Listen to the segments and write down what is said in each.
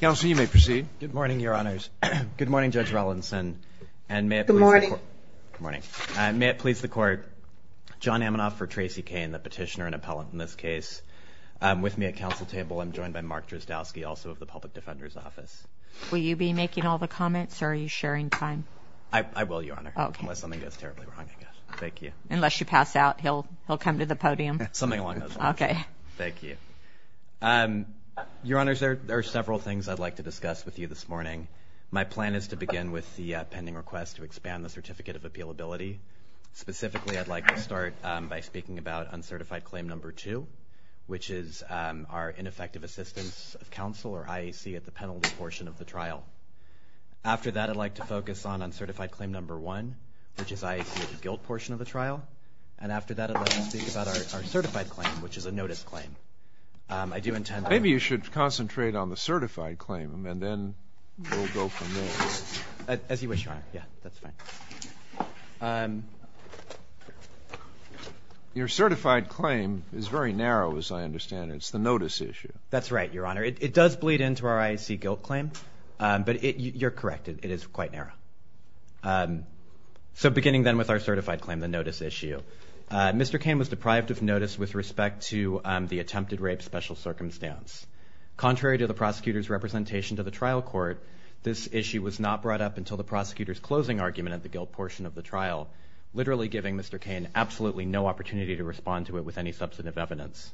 Good morning, Your Honors. Good morning, Judge Rollinson. Good morning. May it please the Court, John Amanoff for Tracy Cain, the petitioner and appellant in this case. With me at council table, I'm joined by Mark Drozdowski, also of the Public Defender's Office. Will you be making all the comments, or are you sharing time? I will, Your Honor, unless something goes terribly wrong, I guess. Thank you. Unless you pass out, he'll come to the podium. Something along those lines. Okay. Thank you. Your Honors, there are several things I'd like to discuss with you this morning. My plan is to begin with the pending request to expand the Certificate of Appealability. Specifically, I'd like to start by speaking about Uncertified Claim No. 2, which is our Ineffective Assistance of Counsel, or IAC, at the penalty portion of the trial. After that, I'd like to focus on Uncertified Claim No. 1, which is IAC at the guilt portion of the trial. And after that, I'd like to speak about our Certified Claim, which is a Notice Claim. I do intend to— Maybe you should concentrate on the Certified Claim, and then we'll go from there. As you wish, Your Honor. Yeah, that's fine. Your Certified Claim is very narrow, as I understand it. It's the Notice Issue. That's right, Your Honor. It does bleed into our IAC guilt claim, but you're correct. It is quite narrow. So beginning then with our Certified Claim, the Notice Issue. Mr. Cain was deprived of notice with respect to the attempted rape special circumstance. Contrary to the prosecutor's representation to the trial court, this issue was not brought up until the prosecutor's closing argument at the guilt portion of the trial, literally giving Mr. Cain absolutely no opportunity to respond to it with any substantive evidence.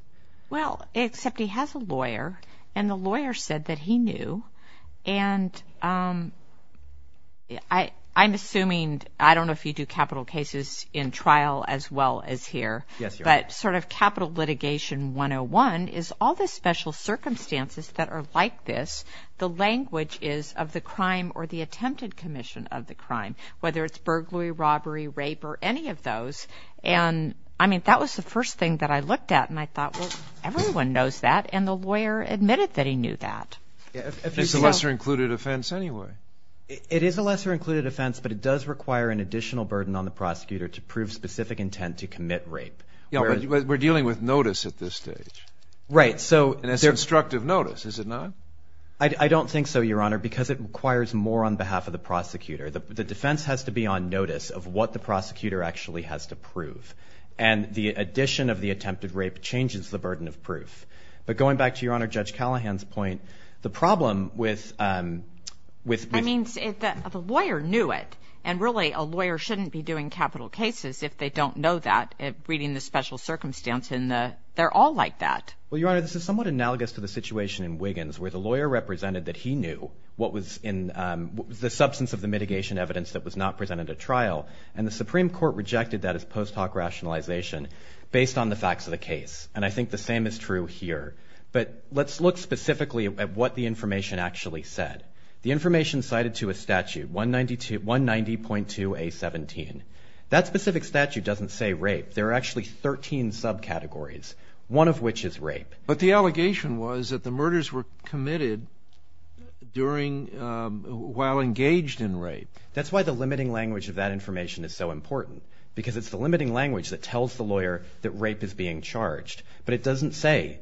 Well, except he has a lawyer, and the lawyer said that he knew. And I'm assuming—I don't know if you do capital cases in trial as well as here. Yes, Your Honor. But sort of Capital Litigation 101 is all the special circumstances that are like this. The language is of the crime or the attempted commission of the crime, whether it's burglary, robbery, rape, or any of those. And, I mean, that was the first thing that I looked at, and I thought, well, everyone knows that. And the lawyer admitted that he knew that. It's a lesser-included offense anyway. It is a lesser-included offense, but it does require an additional burden on the prosecutor to prove specific intent to commit rape. Yeah, but we're dealing with notice at this stage. Right, so— And it's constructive notice, is it not? I don't think so, Your Honor, because it requires more on behalf of the prosecutor. The defense has to be on notice of what the prosecutor actually has to prove. And the addition of the attempted rape changes the burden of proof. But going back to Your Honor, Judge Callahan's point, the problem with— I mean, the lawyer knew it. And, really, a lawyer shouldn't be doing capital cases if they don't know that, reading the special circumstance, and they're all like that. Well, Your Honor, this is somewhat analogous to the situation in Wiggins where the lawyer represented that he knew what was in the substance of the mitigation evidence that was not presented at trial, and the Supreme Court rejected that as post hoc rationalization based on the facts of the case. And I think the same is true here. But let's look specifically at what the information actually said. The information cited to a statute, 190.2A17, that specific statute doesn't say rape. There are actually 13 subcategories, one of which is rape. But the allegation was that the murders were committed during—while engaged in rape. That's why the limiting language of that information is so important, because it's the limiting language that tells the lawyer that rape is being charged. But it doesn't say,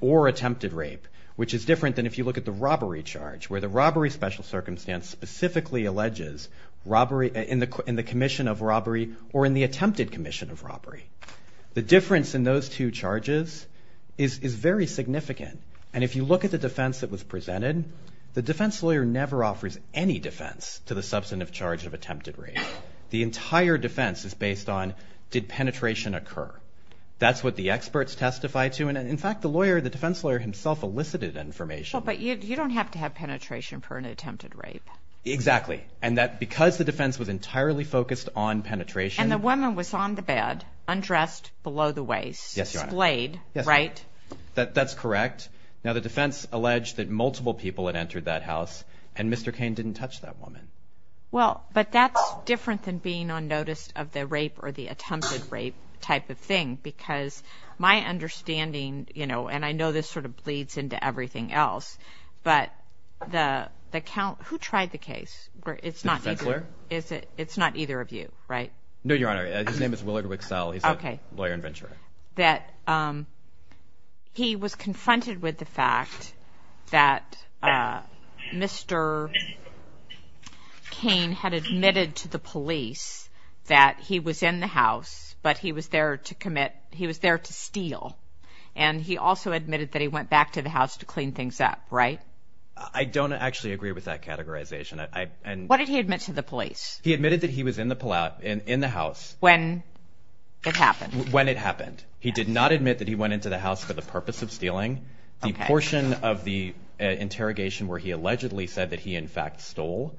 or attempted rape, which is different than if you look at the robbery charge, where the robbery special circumstance specifically alleges robbery in the commission of robbery or in the attempted commission of robbery. The difference in those two charges is very significant. And if you look at the defense that was presented, the defense lawyer never offers any defense to the substantive charge of attempted rape. The entire defense is based on, did penetration occur? That's what the experts testify to. And, in fact, the lawyer, the defense lawyer himself, elicited that information. But you don't have to have penetration for an attempted rape. Exactly. And because the defense was entirely focused on penetration— And the woman was on the bed, undressed, below the waist. Yes, Your Honor. Displayed, right? That's correct. Now, the defense alleged that multiple people had entered that house, and Mr. Cain didn't touch that woman. Well, but that's different than being on notice of the rape or the attempted rape type of thing, because my understanding, you know, and I know this sort of bleeds into everything else, but who tried the case? The defense lawyer? It's not either of you, right? No, Your Honor. His name is Willard Wicksell. He's a lawyer and venturer. He was confronted with the fact that Mr. Cain had admitted to the police that he was in the house, but he was there to commit, he was there to steal. And he also admitted that he went back to the house to clean things up, right? I don't actually agree with that categorization. What did he admit to the police? He admitted that he was in the house. When it happened. When it happened. He did not admit that he went into the house for the purpose of stealing. The portion of the interrogation where he allegedly said that he, in fact, stole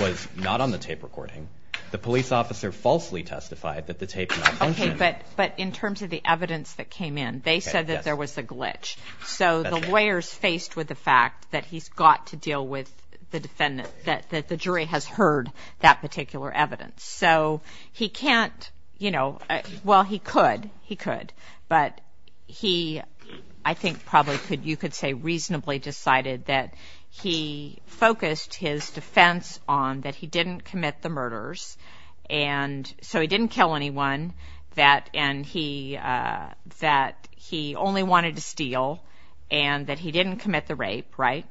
was not on the tape recording. The police officer falsely testified that the tape did not function. Okay, but in terms of the evidence that came in, they said that there was a glitch. So the lawyer's faced with the fact that he's got to deal with the defendant, that the jury has heard that particular evidence. So he can't, you know, well, he could. He could. But he, I think probably you could say reasonably decided that he focused his defense on that he didn't commit the murders. And so he didn't kill anyone, that he only wanted to steal, and that he didn't commit the rape, right?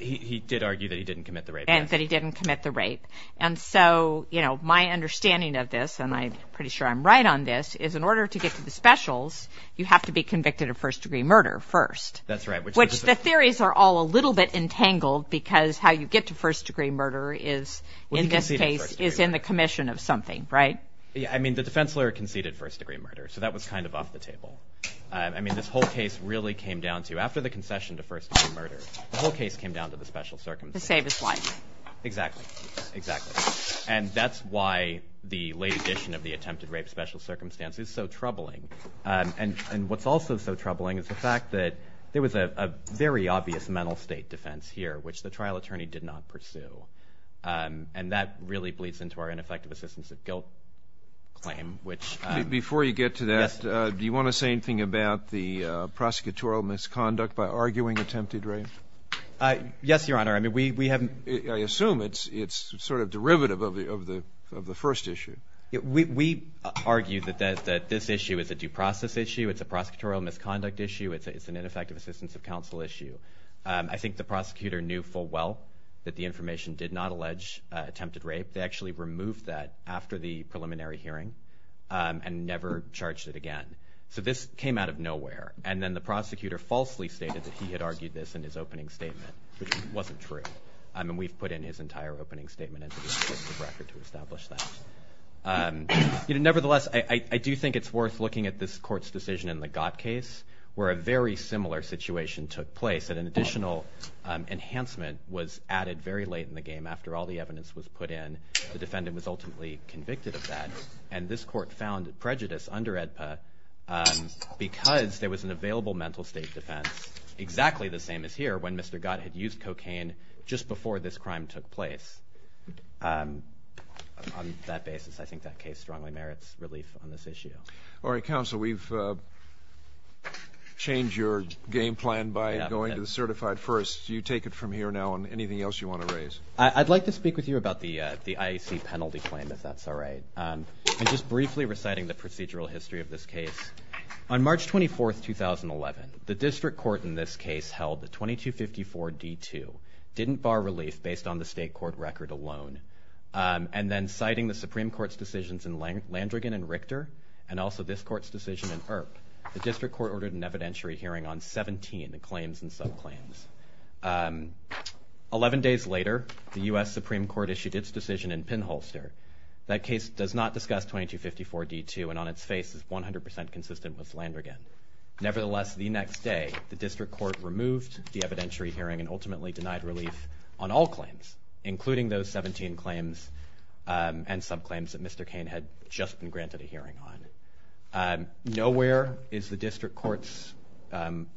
He did argue that he didn't commit the rape. And that he didn't commit the rape. And so, you know, my understanding of this, and I'm pretty sure I'm right on this, is in order to get to the specials, you have to be convicted of first-degree murder first. That's right. Which the theories are all a little bit entangled because how you get to first-degree murder is, in this case, is in the commission of something, right? Yeah, I mean, the defense lawyer conceded first-degree murder, so that was kind of off the table. I mean, this whole case really came down to, after the concession to first-degree murder, the whole case came down to the special circumstances. To save his life. Exactly. Exactly. And that's why the late addition of the attempted rape special circumstance is so troubling. And what's also so troubling is the fact that there was a very obvious mental state defense here, which the trial attorney did not pursue. And that really bleeds into our ineffective assistance of guilt claim. Before you get to that, do you want to say anything about the prosecutorial misconduct by arguing attempted rape? Yes, Your Honor. I assume it's sort of derivative of the first issue. We argue that this issue is a due process issue, it's a prosecutorial misconduct issue, it's an ineffective assistance of counsel issue. I think the prosecutor knew full well that the information did not allege attempted rape. They actually removed that after the preliminary hearing and never charged it again. So this came out of nowhere. And then the prosecutor falsely stated that he had argued this in his opening statement, which wasn't true. I mean, we've put in his entire opening statement into the executive record to establish that. Nevertheless, I do think it's worth looking at this court's decision in the Gott case, where a very similar situation took place and an additional enhancement was added very late in the game. After all the evidence was put in, the defendant was ultimately convicted of that. And this court found prejudice under AEDPA because there was an available mental state defense, exactly the same as here when Mr. Gott had used cocaine just before this crime took place. On that basis, I think that case strongly merits relief on this issue. All right, counsel, we've changed your game plan by going to the certified first. Do you take it from here now on anything else you want to raise? I'd like to speak with you about the IAC penalty claim, if that's all right. I'm just briefly reciting the procedural history of this case. On March 24, 2011, the district court in this case held that 2254D2 didn't bar relief based on the state court record alone. And then citing the Supreme Court's decisions in Landrigan and Richter and also this court's decision in Earp, the district court ordered an evidentiary hearing on 17 claims and subclaims. Eleven days later, the U.S. Supreme Court issued its decision in Pinholster. That case does not discuss 2254D2, and on its face is 100 percent consistent with Landrigan. Nevertheless, the next day, the district court removed the evidentiary hearing and ultimately denied relief on all claims, including those 17 claims and subclaims that Mr. Kane had just been granted a hearing on. Nowhere is the district court's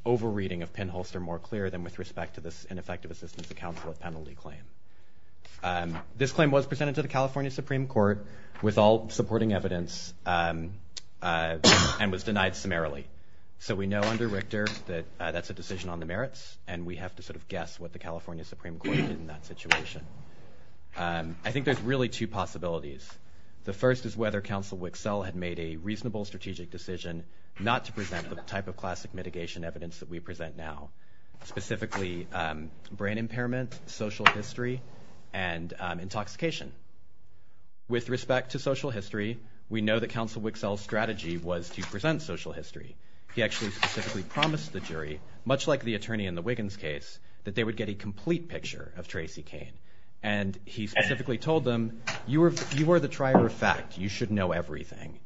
over-reading of Pinholster more clear than with respect to this ineffective assistance to counsel of penalty claim. This claim was presented to the California Supreme Court with all supporting evidence and was denied summarily. So we know under Richter that that's a decision on the merits, and we have to sort of guess what the California Supreme Court did in that situation. I think there's really two possibilities. The first is whether Counsel Wicksell had made a reasonable strategic decision not to present the type of classic mitigation evidence that we present now, specifically brain impairment, social history, and intoxication. With respect to social history, we know that Counsel Wicksell's strategy was to present social history. He actually specifically promised the jury, much like the attorney in the Wiggins case, that they would get a complete picture of Tracy Kane. And he specifically told them, you are the trier of fact. You should know everything.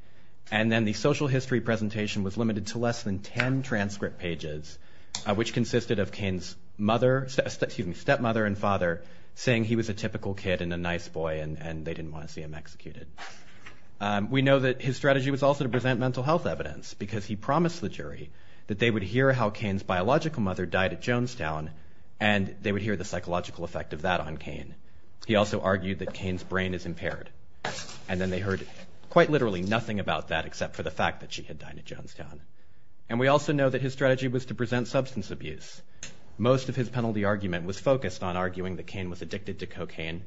And then the social history presentation was limited to less than 10 transcript pages, which consisted of Kane's stepmother and father saying he was a typical kid and a nice boy and they didn't want to see him executed. We know that his strategy was also to present mental health evidence because he promised the jury that they would hear how Kane's biological mother died at Jonestown and they would hear the psychological effect of that on Kane. He also argued that Kane's brain is impaired. And then they heard quite literally nothing about that except for the fact that she had died at Jonestown. And we also know that his strategy was to present substance abuse. Most of his penalty argument was focused on arguing that Kane was addicted to cocaine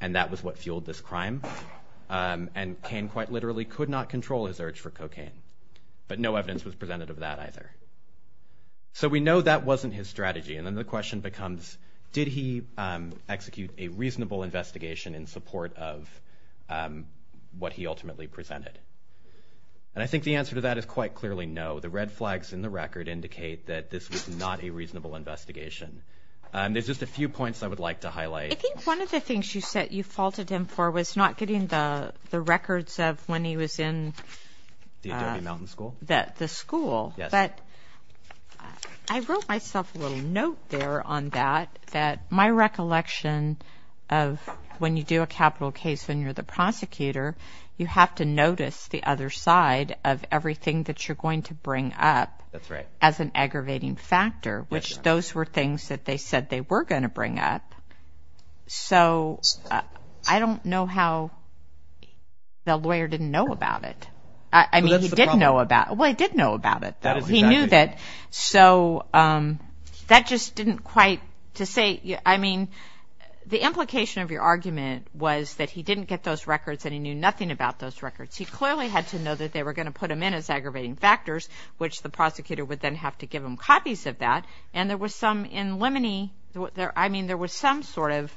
and that was what fueled this crime. And Kane quite literally could not control his urge for cocaine. But no evidence was presented of that either. So we know that wasn't his strategy. And then the question becomes, did he execute a reasonable investigation in support of what he ultimately presented? And I think the answer to that is quite clearly no. The red flags in the record indicate that this was not a reasonable investigation. There's just a few points I would like to highlight. I think one of the things you said you faulted him for was not getting the records of when he was in the school. But I wrote myself a little note there on that, that my recollection of when you do a capital case when you're the prosecutor, you have to notice the other side of everything that you're going to bring up as an aggravating factor, which those were things that they said they were going to bring up. So I don't know how the lawyer didn't know about it. I mean, he did know about it, though. He knew that. So that just didn't quite, to say, I mean, the implication of your argument was that he didn't get those records and he knew nothing about those records. He clearly had to know that they were going to put him in as aggravating factors, which the prosecutor would then have to give him copies of that. And there was some in Lemony, I mean, there was some sort of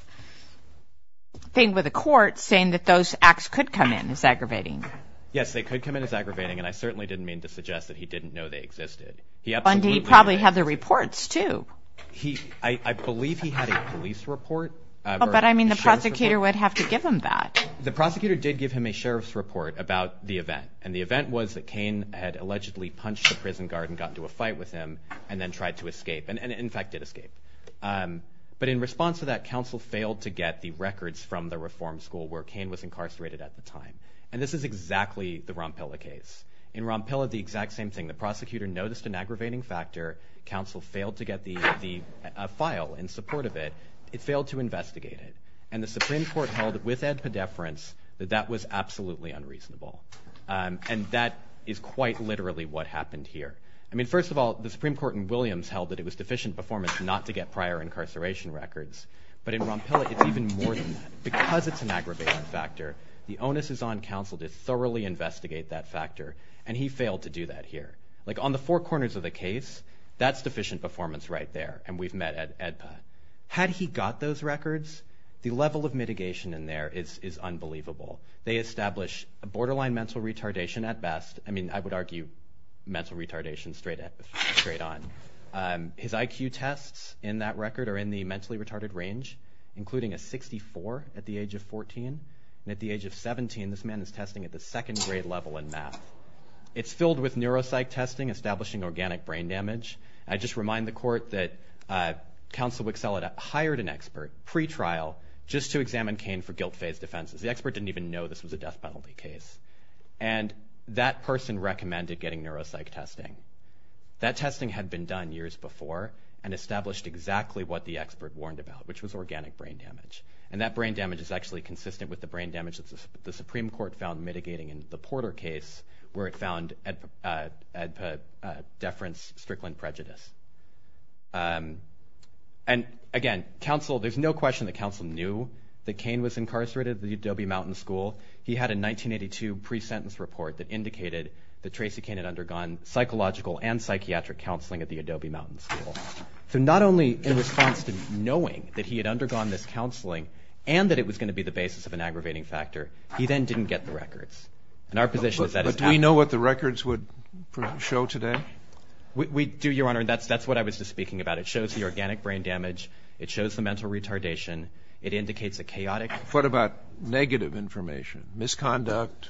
thing with the court saying that those acts could come in as aggravating. Yes, they could come in as aggravating, and I certainly didn't mean to suggest that he didn't know they existed. And he probably had the reports, too. I believe he had a police report. But, I mean, the prosecutor would have to give him that. The prosecutor did give him a sheriff's report about the event, and the event was that Cain had allegedly punched a prison guard and got into a fight with him and then tried to escape, and in fact did escape. But in response to that, counsel failed to get the records from the reform school where Cain was incarcerated at the time. And this is exactly the Rompilla case. In Rompilla, the exact same thing. The prosecutor noticed an aggravating factor. Counsel failed to get a file in support of it. It failed to investigate it. And the Supreme Court held, with ad pedeference, that that was absolutely unreasonable. And that is quite literally what happened here. I mean, first of all, the Supreme Court in Williams held that it was deficient performance not to get prior incarceration records. But in Rompilla, it's even more than that. Because it's an aggravating factor, the onus is on counsel to thoroughly investigate that factor, and he failed to do that here. Like, on the four corners of the case, that's deficient performance right there, and we've met at AEDPA. Had he got those records, the level of mitigation in there is unbelievable. They establish a borderline mental retardation at best. I mean, I would argue mental retardation straight on. His IQ tests in that record are in the mentally retarded range, including a 64 at the age of 14. And at the age of 17, this man is testing at the second grade level in math. It's filled with neuropsych testing, establishing organic brain damage. I just remind the court that counsel Wicksell had hired an expert pre-trial just to examine Cain for guilt-phase defenses. The expert didn't even know this was a death penalty case. And that person recommended getting neuropsych testing. That testing had been done years before and established exactly what the expert warned about, which was organic brain damage. And that brain damage is actually consistent with the brain damage that the Supreme Court found mitigating in the Porter case where it found AEDPA deference, Strickland prejudice. And again, there's no question that counsel knew that Cain was incarcerated at the Adobe Mountain School. He had a 1982 pre-sentence report that indicated that Tracy Cain had undergone psychological and psychiatric counseling at the Adobe Mountain School. So not only in response to knowing that he had undergone this counseling and that it was going to be the basis of an aggravating factor, he then didn't get the records. But do we know what the records would show today? We do, Your Honor, and that's what I was just speaking about. It shows the organic brain damage. It shows the mental retardation. It indicates a chaotic... What about negative information, misconduct,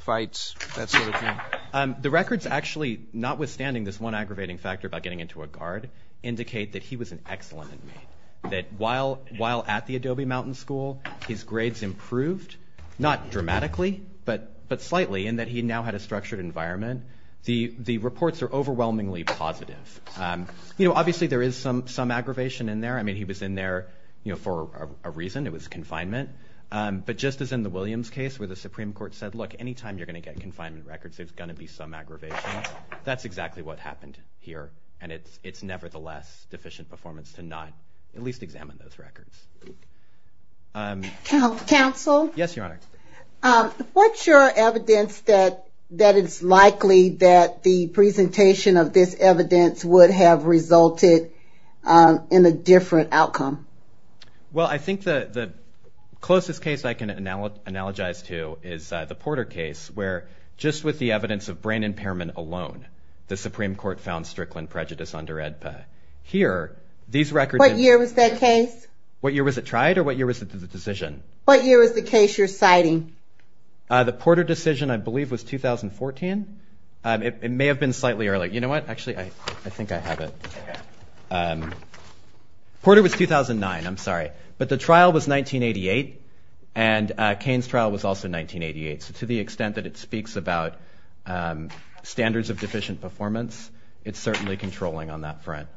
fights, that sort of thing? The records actually, notwithstanding this one aggravating factor about getting into a guard, indicate that he was an excellent inmate. That while at the Adobe Mountain School, his grades improved, not dramatically, but slightly, in that he now had a structured environment. The reports are overwhelmingly positive. Obviously, there is some aggravation in there. I mean, he was in there for a reason. It was confinement. But just as in the Williams case where the Supreme Court said, look, any time you're going to get confinement records, there's going to be some aggravation. That's exactly what happened here, and it's nevertheless deficient performance to not at least examine those records. Counsel? Yes, Your Honor. What's your evidence that it's likely that the presentation of this evidence would have resulted in a different outcome? Well, I think the closest case I can analogize to is the Porter case, where just with the evidence of brain impairment alone, the Supreme Court found Strickland prejudice under AEDPA. What year was that case? What year was it tried, or what year was it the decision? What year was the case you're citing? The Porter decision, I believe, was 2014. It may have been slightly earlier. You know what? Actually, I think I have it. Okay. Porter was 2009. I'm sorry. But the trial was 1988, and Cain's trial was also 1988. So to the extent that it speaks about standards of deficient performance, it's certainly controlling on that front.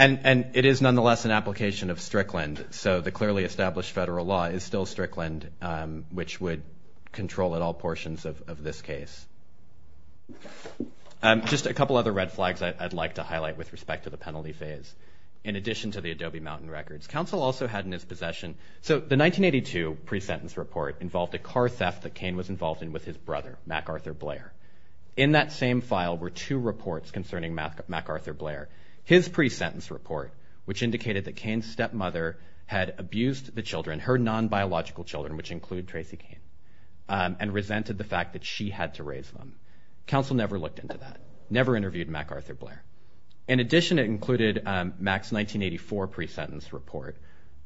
And it is nonetheless an application of Strickland, so the clearly established federal law is still Strickland, which would control at all portions of this case. Just a couple other red flags I'd like to highlight with respect to the penalty phase. In addition to the Adobe Mountain records, counsel also had in his possession the 1982 pre-sentence report involved a car theft that Cain was involved in with his brother, MacArthur Blair. In that same file were two reports concerning MacArthur Blair, his pre-sentence report, which indicated that Cain's stepmother had abused the children, her non-biological children, which include Tracy Cain, and resented the fact that she had to raise them. Counsel never looked into that, never interviewed MacArthur Blair. In addition, it included Mac's 1984 pre-sentence report.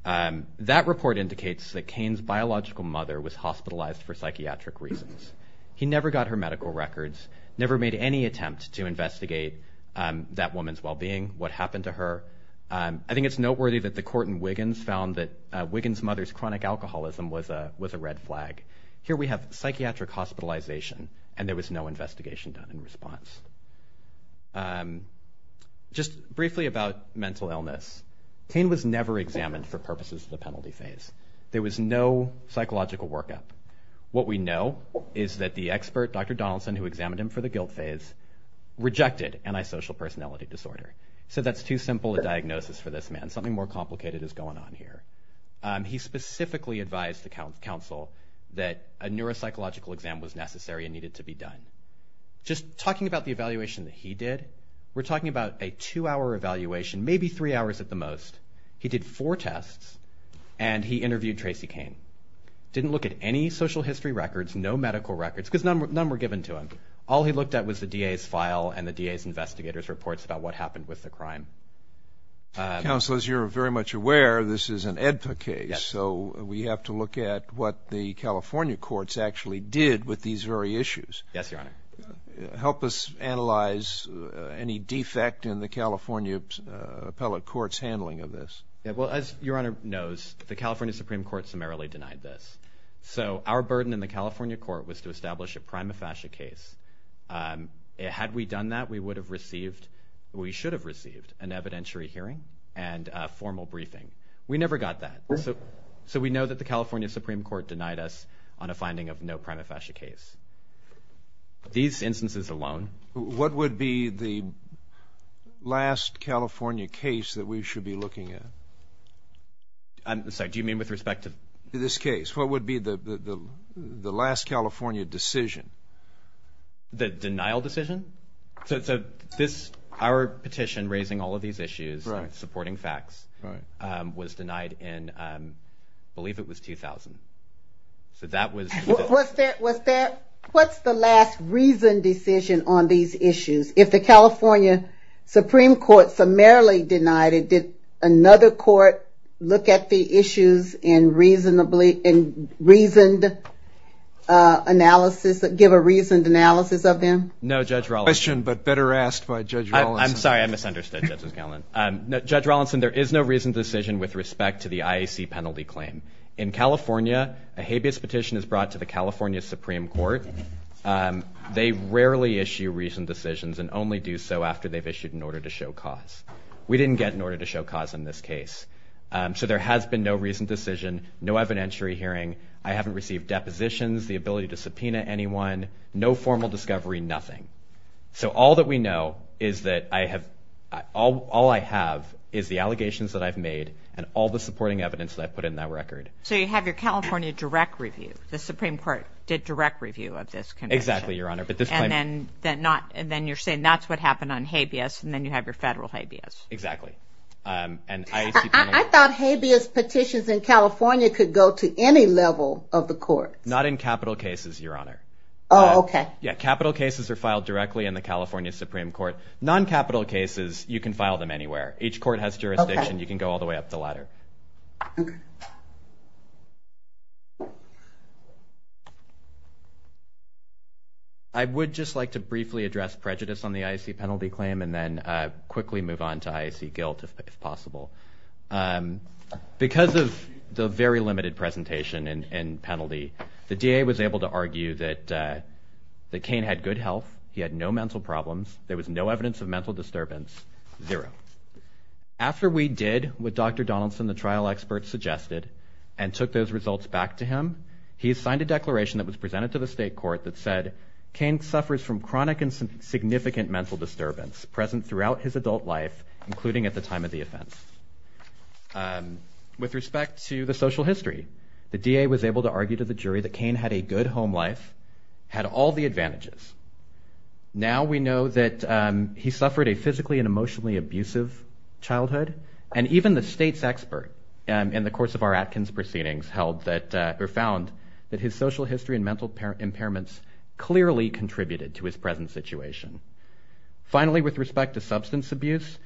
That report indicates that Cain's biological mother was hospitalized for psychiatric reasons. He never got her medical records, never made any attempt to investigate that woman's well-being, what happened to her. I think it's noteworthy that the court in Wiggins found that Wiggins' mother's chronic alcoholism was a red flag. Here we have psychiatric hospitalization, and there was no investigation done in response. Just briefly about mental illness. Cain was never examined for purposes of the penalty phase. There was no psychological workup. What we know is that the expert, Dr. Donaldson, who examined him for the guilt phase, rejected antisocial personality disorder. He said, that's too simple a diagnosis for this man, something more complicated is going on here. He specifically advised the counsel that a neuropsychological exam was necessary and needed to be done. Just talking about the evaluation that he did, we're talking about a two-hour evaluation, maybe three hours at the most. He did four tests, and he interviewed Tracy Cain. Didn't look at any social history records, no medical records, because none were given to him. All he looked at was the DA's file and the DA's investigator's reports about what happened with the crime. Counsel, as you're very much aware, this is an AEDPA case, so we have to look at what the California courts actually did with these very issues. Yes, Your Honor. Help us analyze any defect in the California appellate court's handling of this. Well, as Your Honor knows, the California Supreme Court summarily denied this. So our burden in the California court was to establish a prima facie case. Had we done that, we should have received an evidentiary hearing and a formal briefing. We never got that. So we know that the California Supreme Court denied us on a finding of no prima facie case. These instances alone. What would be the last California case that we should be looking at? I'm sorry, do you mean with respect to this case? What would be the last California decision? The denial decision? So our petition raising all of these issues, supporting facts, was denied in, I believe it was 2000. So that was the decision. What's the last reason decision on these issues? If the California Supreme Court summarily denied it, did another court look at the issues and give a reasoned analysis of them? No, Judge Rawlinson. A question, but better asked by Judge Rawlinson. I'm sorry, I misunderstood, Justice Gellin. Judge Rawlinson, there is no reasoned decision with respect to the IAC penalty claim. In California, a habeas petition is brought to the California Supreme Court. They rarely issue reasoned decisions and only do so after they've issued an order to show cause. We didn't get an order to show cause in this case. So there has been no reasoned decision, no evidentiary hearing. I haven't received depositions, the ability to subpoena anyone, no formal discovery, nothing. So all that we know is that all I have is the allegations that I've made and all the supporting evidence that I've put in that record. So you have your California direct review. The Supreme Court did direct review of this conviction. Exactly, Your Honor. And then you're saying that's what happened on habeas and then you have your federal habeas. Exactly. I thought habeas petitions in California could go to any level of the court. Not in capital cases, Your Honor. Oh, okay. Yeah, capital cases are filed directly in the California Supreme Court. Non-capital cases, you can file them anywhere. Each court has jurisdiction. You can go all the way up the ladder. Okay. I would just like to briefly address prejudice on the IAC penalty claim and then quickly move on to IAC guilt if possible. Because of the very limited presentation and penalty, the DA was able to argue that Cain had good health, he had no mental problems, there was no evidence of mental disturbance, zero. After we did what Dr. Donaldson, the trial expert, suggested and took those results back to him, he signed a declaration that was presented to the state court that said, Cain suffers from chronic and significant mental disturbance present throughout his adult life, including at the time of the offense. With respect to the social history, the DA was able to argue to the jury that Cain had a good home life, had all the advantages. Now we know that he suffered a physically and emotionally abusive childhood, and even the state's expert in the course of our Atkins proceedings found that his social history and mental impairments clearly contributed to his present situation. Finally, with respect to substance abuse,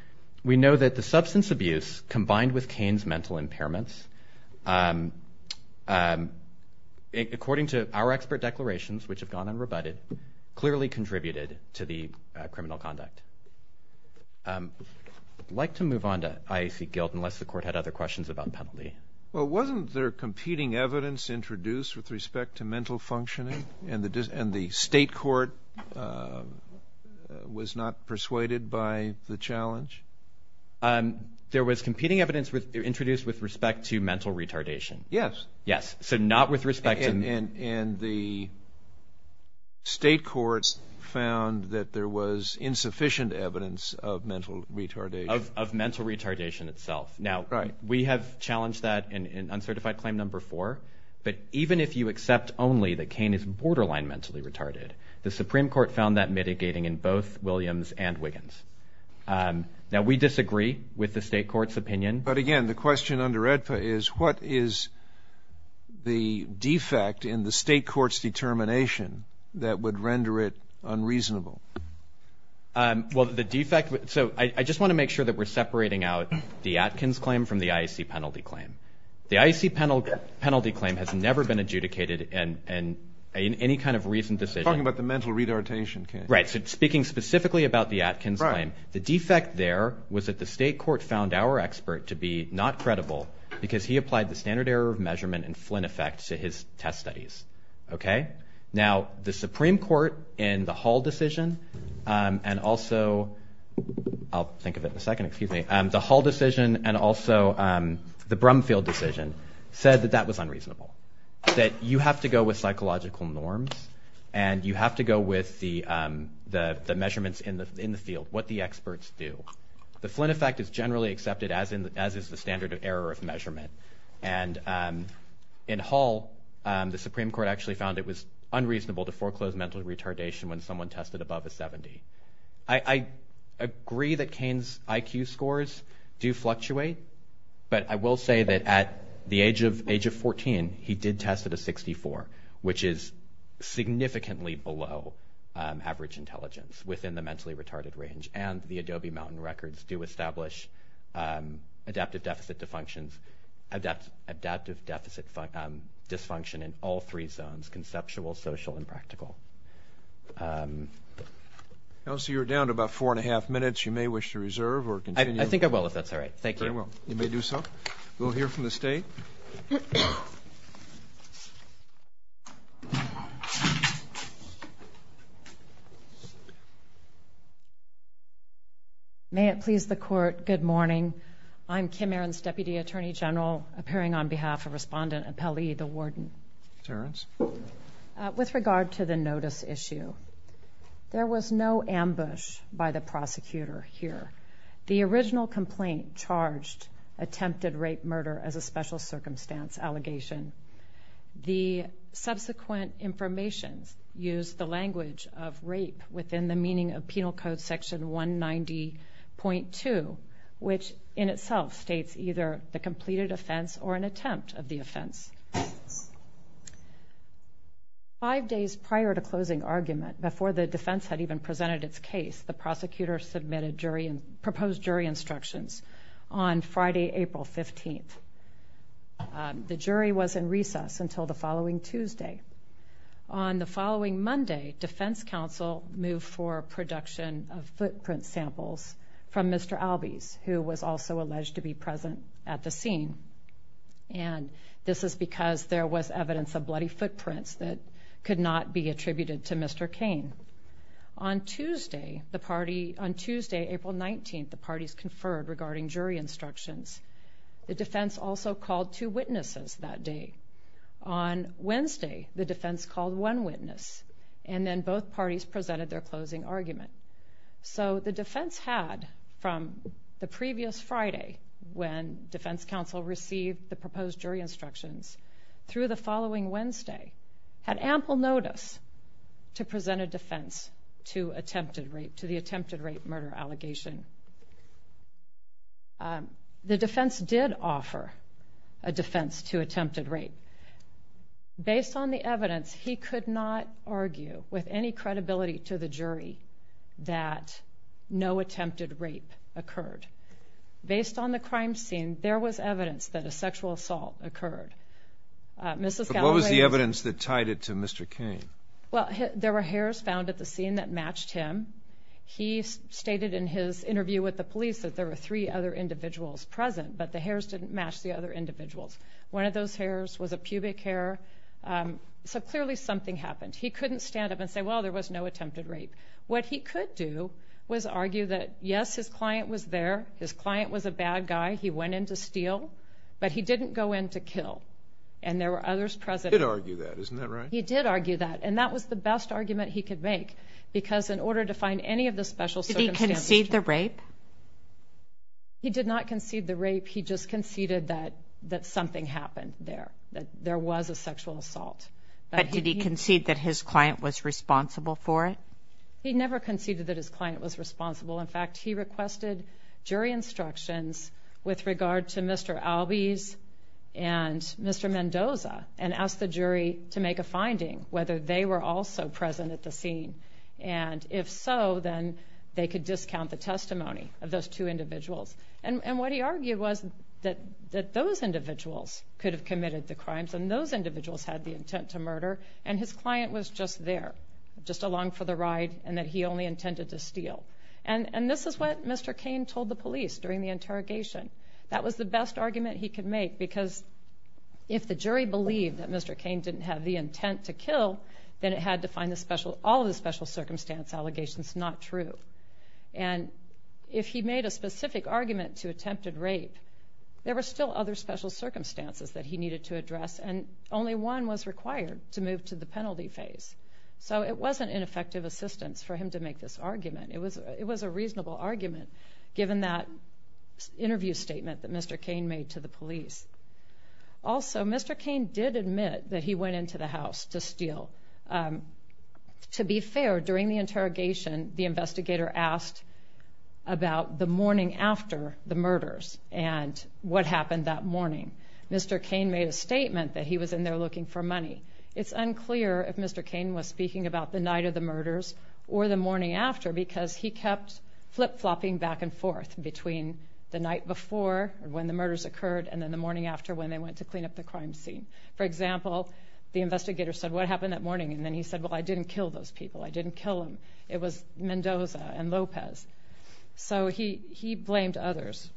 we know that the substance abuse combined with Cain's mental impairments, according to our expert declarations, which have gone unrebutted, clearly contributed to the criminal conduct. I'd like to move on to IAC guilt unless the court had other questions about penalty. Well, wasn't there competing evidence introduced with respect to mental functioning, and the state court was not persuaded by the challenge? There was competing evidence introduced with respect to mental retardation. Yes. Yes, so not with respect to mental retardation. And the state court found that there was insufficient evidence of mental retardation. Of mental retardation itself. Now, we have challenged that in uncertified claim number four, but even if you accept only that Cain is borderline mentally retarded, the Supreme Court found that mitigating in both Williams and Wiggins. Now, we disagree with the state court's opinion. But again, the question under AEDPA is, what is the defect in the state court's determination that would render it unreasonable? Well, the defect, so I just want to make sure that we're separating out the Atkins claim from the IAC penalty claim. The IAC penalty claim has never been adjudicated in any kind of recent decision. You're talking about the mental retardation, Cain. Right, so speaking specifically about the Atkins claim, the defect there was that the state court found our expert to be not credible because he applied the standard error of measurement and Flynn effect to his test studies. Now, the Supreme Court in the Hall decision and also, I'll think of it in a second, excuse me, the Hall decision and also the Brumfield decision said that that was unreasonable. That you have to go with psychological norms and you have to go with the measurements in the field, what the experts do. The Flynn effect is generally accepted as is the standard error of measurement. And in Hall, the Supreme Court actually found it was unreasonable to foreclose mental retardation when someone tested above a 70. I agree that Cain's IQ scores do fluctuate, but I will say that at the age of 14, he did test at a 64, which is significantly below average intelligence within the mentally retarded range and the Adobe Mountain records do establish adaptive deficit dysfunction in all three zones, conceptual, social, and practical. Elsie, you're down to about four and a half minutes. You may wish to reserve or continue. I think I will if that's all right. Thank you. You may do so. We'll hear from the state. May it please the court, good morning. I'm Kim Aarons, Deputy Attorney General, appearing on behalf of Respondent Appellee, the Warden. Terrence. With regard to the notice issue, there was no ambush by the prosecutor here. The original complaint charged attempted rape-murder as a special circumstance allegation. The subsequent information used the language of rape within the meaning of Penal Code Section 190.2, which in itself states either the completed offense or an attempt of the offense. Five days prior to closing argument, before the defense had even presented its case, the prosecutor submitted proposed jury instructions on Friday, April 15th. The jury was in recess until the following Tuesday. On the following Monday, defense counsel moved for production of footprint samples from Mr. Albies, who was also alleged to be present at the scene. And this is because there was evidence of bloody footprints that could not be attributed to Mr. Cain. On Tuesday, April 19th, the parties conferred regarding jury instructions. The defense also called two witnesses that day. On Wednesday, the defense called one witness, and then both parties presented their closing argument. So the defense had, from the previous Friday, when defense counsel received the proposed jury instructions, through the following Wednesday, had ample notice to present a defense to attempted rape, to the attempted rape-murder allegation. The defense did offer a defense to attempted rape. Based on the evidence, he could not argue with any credibility to the jury that no attempted rape occurred. Based on the crime scene, there was evidence that a sexual assault occurred. But what was the evidence that tied it to Mr. Cain? Well, there were hairs found at the scene that matched him. He stated in his interview with the police that there were three other individuals present, but the hairs didn't match the other individuals. One of those hairs was a pubic hair. So clearly something happened. He couldn't stand up and say, well, there was no attempted rape. What he could do was argue that, yes, his client was there. His client was a bad guy. He went in to steal. But he didn't go in to kill. And there were others present. He did argue that. Isn't that right? He did argue that. And that was the best argument he could make, because in order to find any of the special circumstances. Did he concede the rape? He did not concede the rape. He just conceded that something happened there, that there was a sexual assault. But did he concede that his client was responsible for it? He never conceded that his client was responsible. In fact, he requested jury instructions with regard to Mr. Albies and Mr. Mendoza and asked the jury to make a finding, whether they were also present at the scene. And if so, then they could discount the testimony of those two individuals. And what he argued was that those individuals could have committed the crimes and those individuals had the intent to murder. And his client was just there, just along for the ride, and that he only intended to steal. And this is what Mr. Cain told the police during the interrogation. That was the best argument he could make, because if the jury believed that Mr. Cain didn't have the intent to kill, then it had to find all of the special circumstance allegations not true. And if he made a specific argument to attempted rape, there were still other special circumstances that he needed to address, and only one was required to move to the penalty phase. So it wasn't ineffective assistance for him to make this argument. It was a reasonable argument, given that interview statement that Mr. Cain made to the police. Also, Mr. Cain did admit that he went into the house to steal. To be fair, during the interrogation, the investigator asked about the morning after the murders and what happened that morning. Mr. Cain made a statement that he was in there looking for money. It's unclear if Mr. Cain was speaking about the night of the murders or the morning after, because he kept flip-flopping back and forth between the night before, when the murders occurred, and then the morning after, when they went to clean up the crime scene. For example, the investigator said, what happened that morning? And then he said, well, I didn't kill those people. I didn't kill them. It was Mendoza and Lopez. So he blamed others.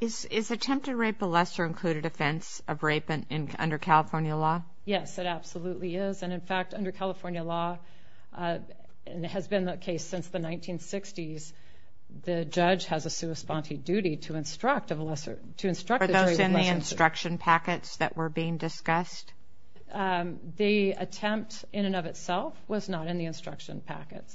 Is attempted rape a lesser-included offense of rape under California law? Yes, it absolutely is. And, in fact, under California law, and it has been the case since the 1960s, the judge has a sui sponte duty to instruct the jury. Were those in the instruction packets that were being discussed? The attempt in and of itself was not in the instruction packets,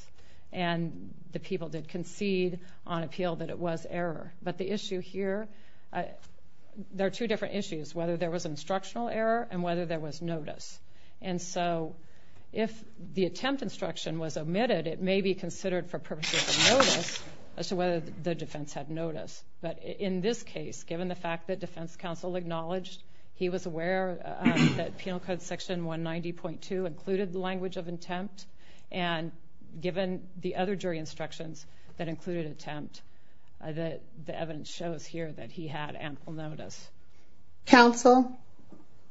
and the people did concede on appeal that it was error. But the issue here, there are two different issues, whether there was instructional error and whether there was notice. And so if the attempt instruction was omitted, it may be considered for purposes of notice as to whether the defense had notice. But in this case, given the fact that defense counsel acknowledged he was aware that Penal Code Section 190.2 included the language of attempt, and given the other jury instructions that included attempt, the evidence shows here that he had ample notice. Counsel?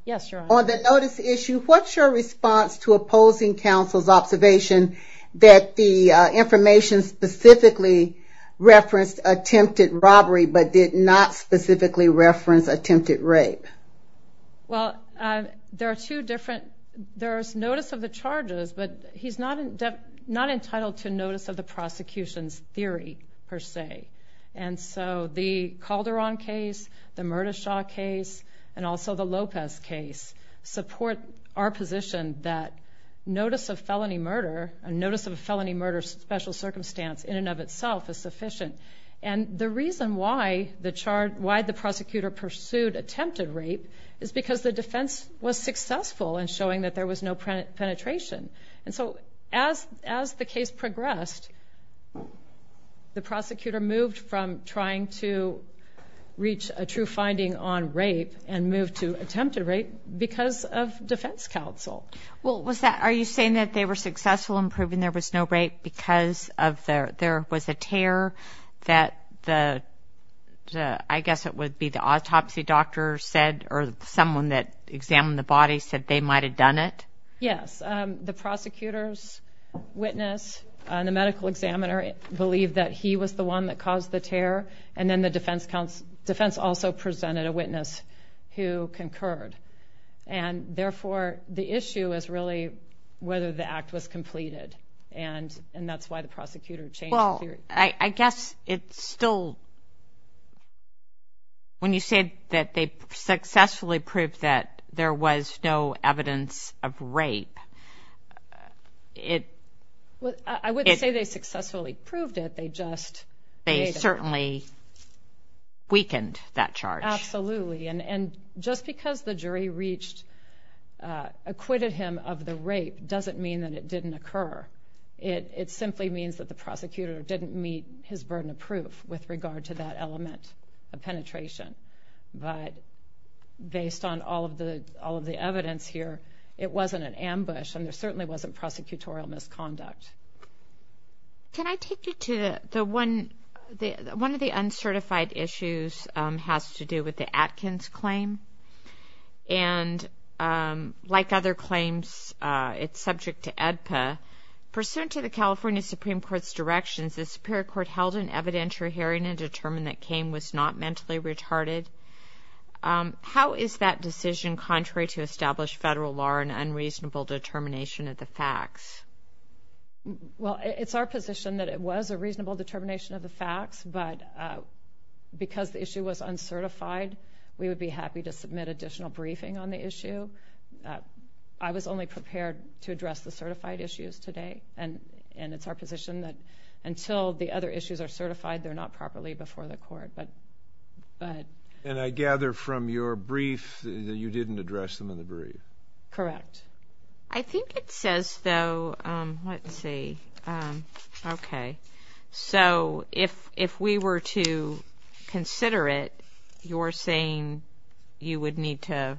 Yes, Your Honor. On the notice issue, what's your response to opposing counsel's observation that the information specifically referenced attempted robbery, but did not specifically reference attempted rape? Well, there are two different... There's notice of the charges, but he's not entitled to notice of the prosecution's theory, per se. And so the Calderon case, the Murdashaw case, and also the Lopez case, support our position that notice of felony murder, a notice of a felony murder special circumstance in and of itself is sufficient. And the reason why the prosecutor pursued attempted rape is because the defense was successful in showing that there was no penetration. And so as the case progressed, the prosecutor moved from trying to reach a true finding on rape and moved to attempted rape because of defense counsel. Well, are you saying that they were successful in proving there was no rape because there was a tear that the, I guess it would be the autopsy doctor said or someone that examined the body said they might have done it? Yes. The prosecutor's witness and the medical examiner believed that he was the one that caused the tear, and then the defense also presented a witness who concurred. And therefore, the issue is really whether the act was completed, and that's why the prosecutor changed the theory. Well, I guess it's still... When you say that they successfully proved that there was no evidence of rape, it... I wouldn't say they successfully proved it. They certainly weakened that charge. Absolutely. And just because the jury reached, acquitted him of the rape doesn't mean that it didn't occur. It simply means that the prosecutor didn't meet his burden of proof with regard to that element of penetration. But based on all of the evidence here, it wasn't an ambush, and there certainly wasn't prosecutorial misconduct. Can I take you to the one... One of the uncertified issues has to do with the Atkins claim. And like other claims, it's subject to AEDPA. Pursuant to the California Supreme Court's directions, the Superior Court held an evidentiary hearing and determined that Cain was not mentally retarded. How is that decision contrary to established federal law and unreasonable determination of the facts? Well, it's our position that it was a reasonable determination of the facts, but because the issue was uncertified, we would be happy to submit additional briefing on the issue. I was only prepared to address the certified issues today, and it's our position that until the other issues are certified, they're not properly before the court. And I gather from your brief that you didn't address them in the brief. Correct. I think it says, though, let's see, okay. So if we were to consider it, you're saying you would need to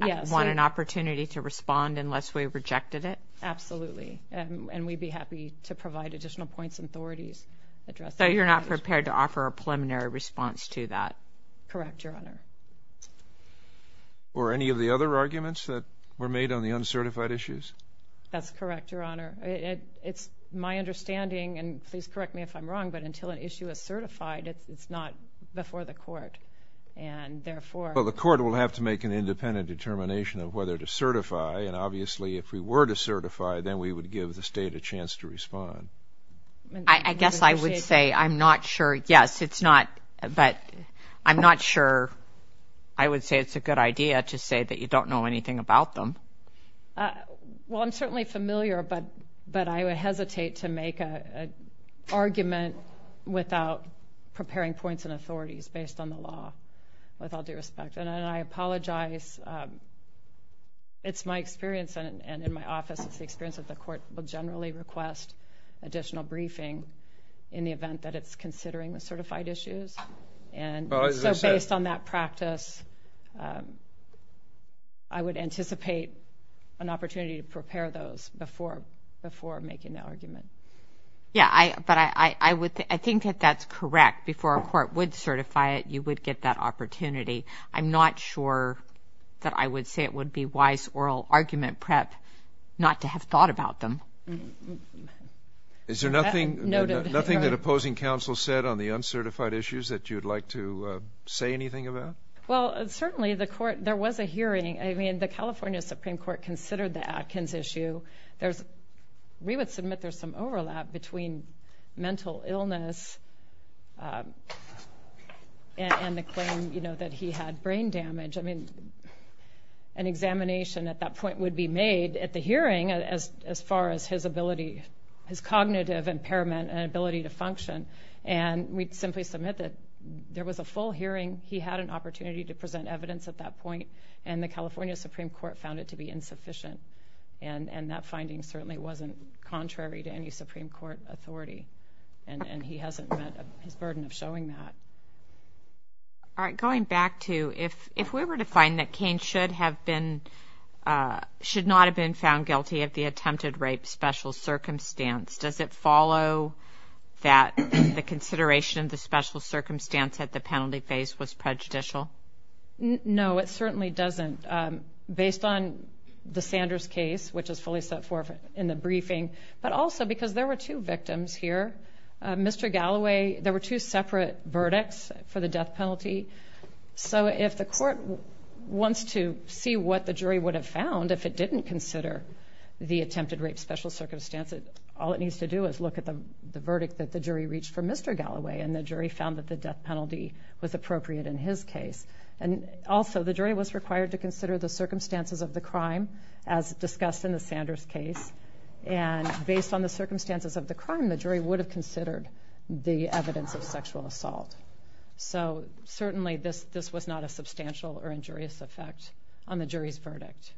want an opportunity to respond unless we rejected it? Absolutely. And we'd be happy to provide additional points and authorities. So you're not prepared to offer a preliminary response to that? Correct, Your Honor. Or any of the other arguments that were made on the uncertified issues? That's correct, Your Honor. It's my understanding, and please correct me if I'm wrong, but until an issue is certified, it's not before the court, and therefore. Well, the court will have to make an independent determination of whether to certify, and obviously if we were to certify, then we would give the state a chance to respond. I guess I would say I'm not sure. Yes, it's not, but I'm not sure I would say it's a good idea to say that you don't know anything about them. Well, I'm certainly familiar, but I would hesitate to make an argument without preparing points and authorities based on the law, with all due respect. And I apologize. It's my experience, and in my office, it's the experience that the court will generally request additional briefing in the event that it's considering the certified issues. And so based on that practice, I would anticipate an opportunity to prepare those before making that argument. Yeah, but I think that that's correct. Before a court would certify it, you would get that opportunity. I'm not sure that I would say it would be wise oral argument prep not to have thought about them. Is there nothing that opposing counsel said on the uncertified issues that you'd like to say anything about? Well, certainly there was a hearing. I mean, the California Supreme Court considered the Atkins issue. We would submit there's some overlap between mental illness and the claim that he had brain damage. I mean, an examination at that point would be made at the hearing as far as his cognitive impairment and ability to function. And we'd simply submit that there was a full hearing, he had an opportunity to present evidence at that point, and the California Supreme Court found it to be insufficient. And that finding certainly wasn't contrary to any Supreme Court authority, and he hasn't met his burden of showing that. All right, going back to if we were to find that Cain should not have been found guilty of the attempted rape special circumstance, does it follow that the consideration of the special circumstance at the penalty phase was prejudicial? No, it certainly doesn't, based on the Sanders case, which is fully set forth in the briefing, but also because there were two victims here. Mr. Galloway, there were two separate verdicts for the death penalty. So if the court wants to see what the jury would have found if it didn't consider the attempted rape special circumstance, all it needs to do is look at the verdict that the jury reached for Mr. Galloway, and the jury found that the death penalty was appropriate in his case. And also the jury was required to consider the circumstances of the crime, as discussed in the Sanders case. And based on the circumstances of the crime, the jury would have considered the evidence of sexual assault. So certainly this was not a substantial or injurious effect on the jury's verdict.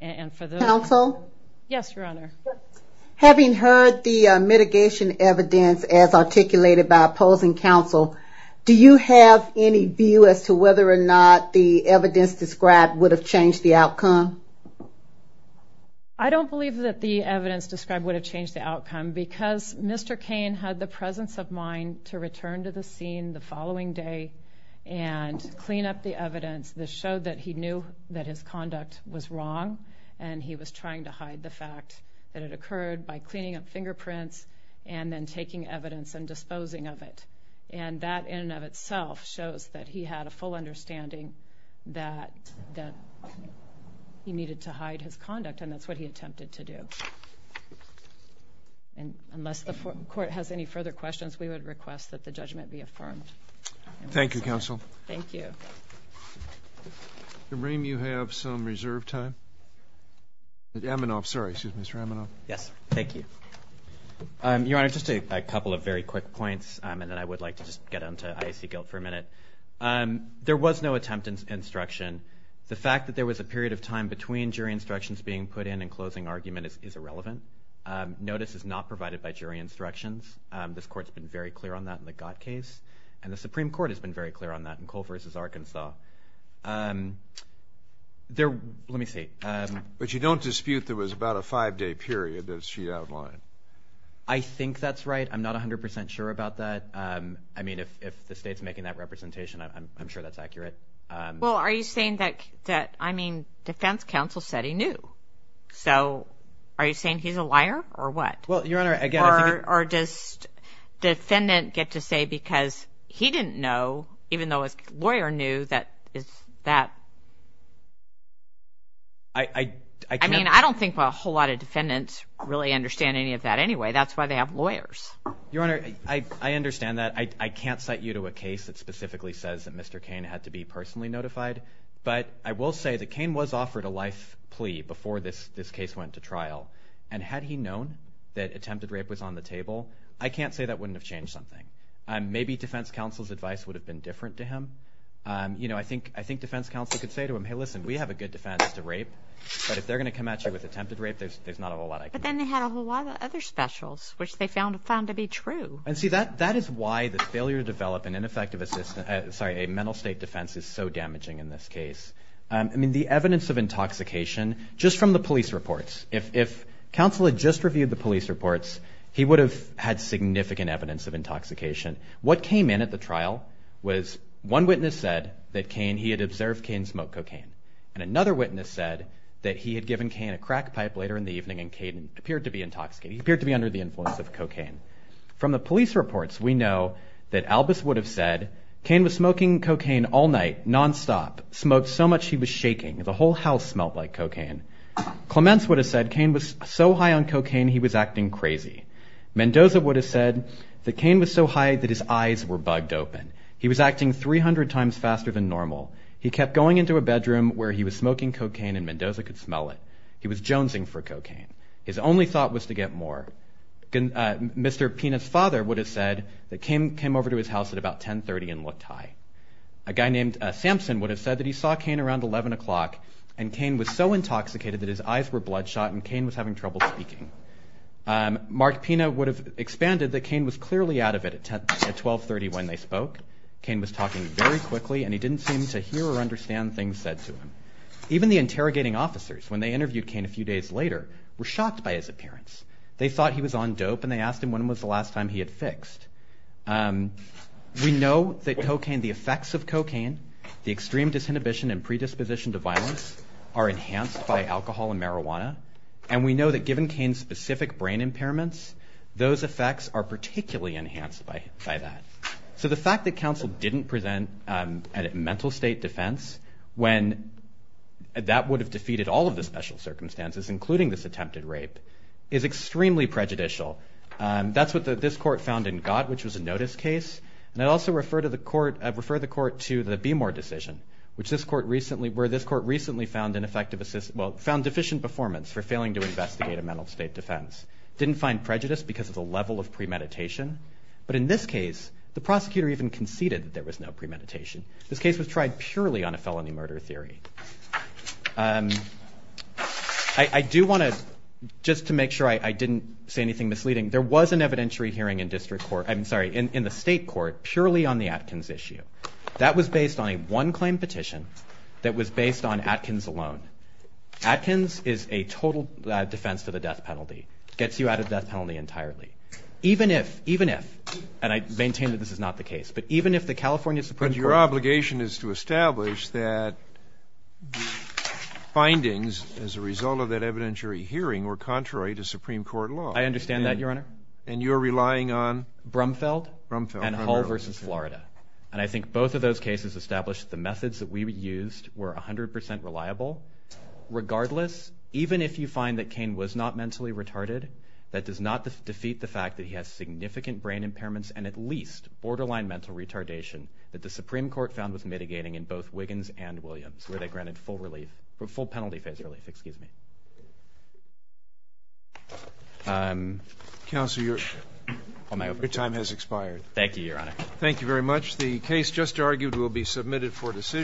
And for the... Counsel? Yes, Your Honor. Having heard the mitigation evidence as articulated by opposing counsel, do you have any view as to whether or not the evidence described would have changed the outcome? I don't believe that the evidence described would have changed the outcome because Mr. Cain had the presence of mind to return to the scene the following day and clean up the evidence that showed that he knew that his conduct was wrong, and he was trying to hide the fact that it occurred by cleaning up fingerprints and then taking evidence and disposing of it. And that in and of itself shows that he had a full understanding that he needed to hide his conduct, and that's what he attempted to do. And unless the Court has any further questions, we would request that the judgment be affirmed. Thank you, Counsel. Thank you. Kareem, you have some reserve time? Amanoff, sorry, excuse me, Mr. Amanoff. Yes, thank you. Your Honor, just a couple of very quick points, and then I would like to just get on to IAC guilt for a minute. There was no attempt at instruction. The fact that there was a period of time between jury instructions being put in and closing argument is irrelevant. Notice is not provided by jury instructions. This Court has been very clear on that in the Gott case, and the Supreme Court has been very clear on that in Cole v. Arkansas. Let me see. But you don't dispute there was about a five-day period that she outlined? I think that's right. I'm not 100% sure about that. I mean, if the State's making that representation, I'm sure that's accurate. Well, are you saying that, I mean, defense counsel said he knew. So are you saying he's a liar, or what? Well, Your Honor, again, I think that Or does defendant get to say because he didn't know, even though his lawyer knew, that is that? I can't I mean, I don't think a whole lot of defendants really understand any of that anyway. That's why they have lawyers. Your Honor, I understand that. I can't cite you to a case that specifically says that Mr. Cain had to be personally notified, but I will say that Cain was offered a life plea before this case went to trial, and had he known that attempted rape was on the table, I can't say that wouldn't have changed something. Maybe defense counsel's advice would have been different to him. You know, I think defense counsel could say to him, Hey, listen, we have a good defense to rape, but if they're going to come at you with attempted rape, there's not a whole lot I can do. But then they had a whole lot of other specials, which they found to be true. And see, that is why the failure to develop a mental state defense is so damaging in this case. I mean, the evidence of intoxication, just from the police reports, if counsel had just reviewed the police reports, he would have had significant evidence of intoxication. What came in at the trial was one witness said that he had observed Cain smoke cocaine, and another witness said that he had given Cain a crack pipe later in the evening and Cain appeared to be intoxicated. He appeared to be under the influence of cocaine. From the police reports, we know that Albus would have said Cain was smoking cocaine all night, nonstop, smoked so much he was shaking. The whole house smelled like cocaine. Clements would have said Cain was so high on cocaine he was acting crazy. Mendoza would have said that Cain was so high that his eyes were bugged open. He was acting 300 times faster than normal. He kept going into a bedroom where he was smoking cocaine and Mendoza could smell it. He was jonesing for cocaine. His only thought was to get more. Mr. Pina's father would have said that Cain came over to his house at about 10.30 and looked high. A guy named Sampson would have said that he saw Cain around 11 o'clock and Cain was so intoxicated that his eyes were bloodshot and Cain was having trouble speaking. Mark Pina would have expanded that Cain was clearly out of it at 12.30 when they spoke. Cain was talking very quickly and he didn't seem to hear or understand things said to him. Even the interrogating officers, when they interviewed Cain a few days later, were shocked by his appearance. They thought he was on dope and they asked him when was the last time he had fixed. We know that cocaine, the effects of cocaine, the extreme disinhibition and predisposition to violence are enhanced by alcohol and marijuana, and we know that given Cain's specific brain impairments, those effects are particularly enhanced by that. So the fact that counsel didn't present a mental state defense when that would have defeated all of the special circumstances, including this attempted rape, is extremely prejudicial. That's what this court found in Gott, which was a notice case, and I'd also refer the court to the Beemore decision, where this court recently found deficient performance for failing to investigate a mental state defense. It didn't find prejudice because of the level of premeditation, but in this case, the prosecutor even conceded that there was no premeditation. This case was tried purely on a felony murder theory. I do want to, just to make sure I didn't say anything misleading, there was an evidentiary hearing in the state court purely on the Atkins issue. That was based on a one-claim petition that was based on Atkins alone. Atkins is a total defense to the death penalty, gets you out of death penalty entirely. Even if, and I maintain that this is not the case, but even if the California Supreme Court... But your obligation is to establish that findings as a result of that evidentiary hearing were contrary to Supreme Court law. I understand that, Your Honor. And you're relying on... Brumfeld and Hull v. Florida. And I think both of those cases established the methods that we used were 100% reliable. Regardless, even if you find that Cain was not mentally retarded, that does not defeat the fact that he has significant brain impairments and at least borderline mental retardation that the Supreme Court found was mitigating in both Wiggins and Williams, where they granted full penalty phase relief. Excuse me. Counsel, your time has expired. Thank you, Your Honor. Thank you very much. The case just argued will be submitted for decision.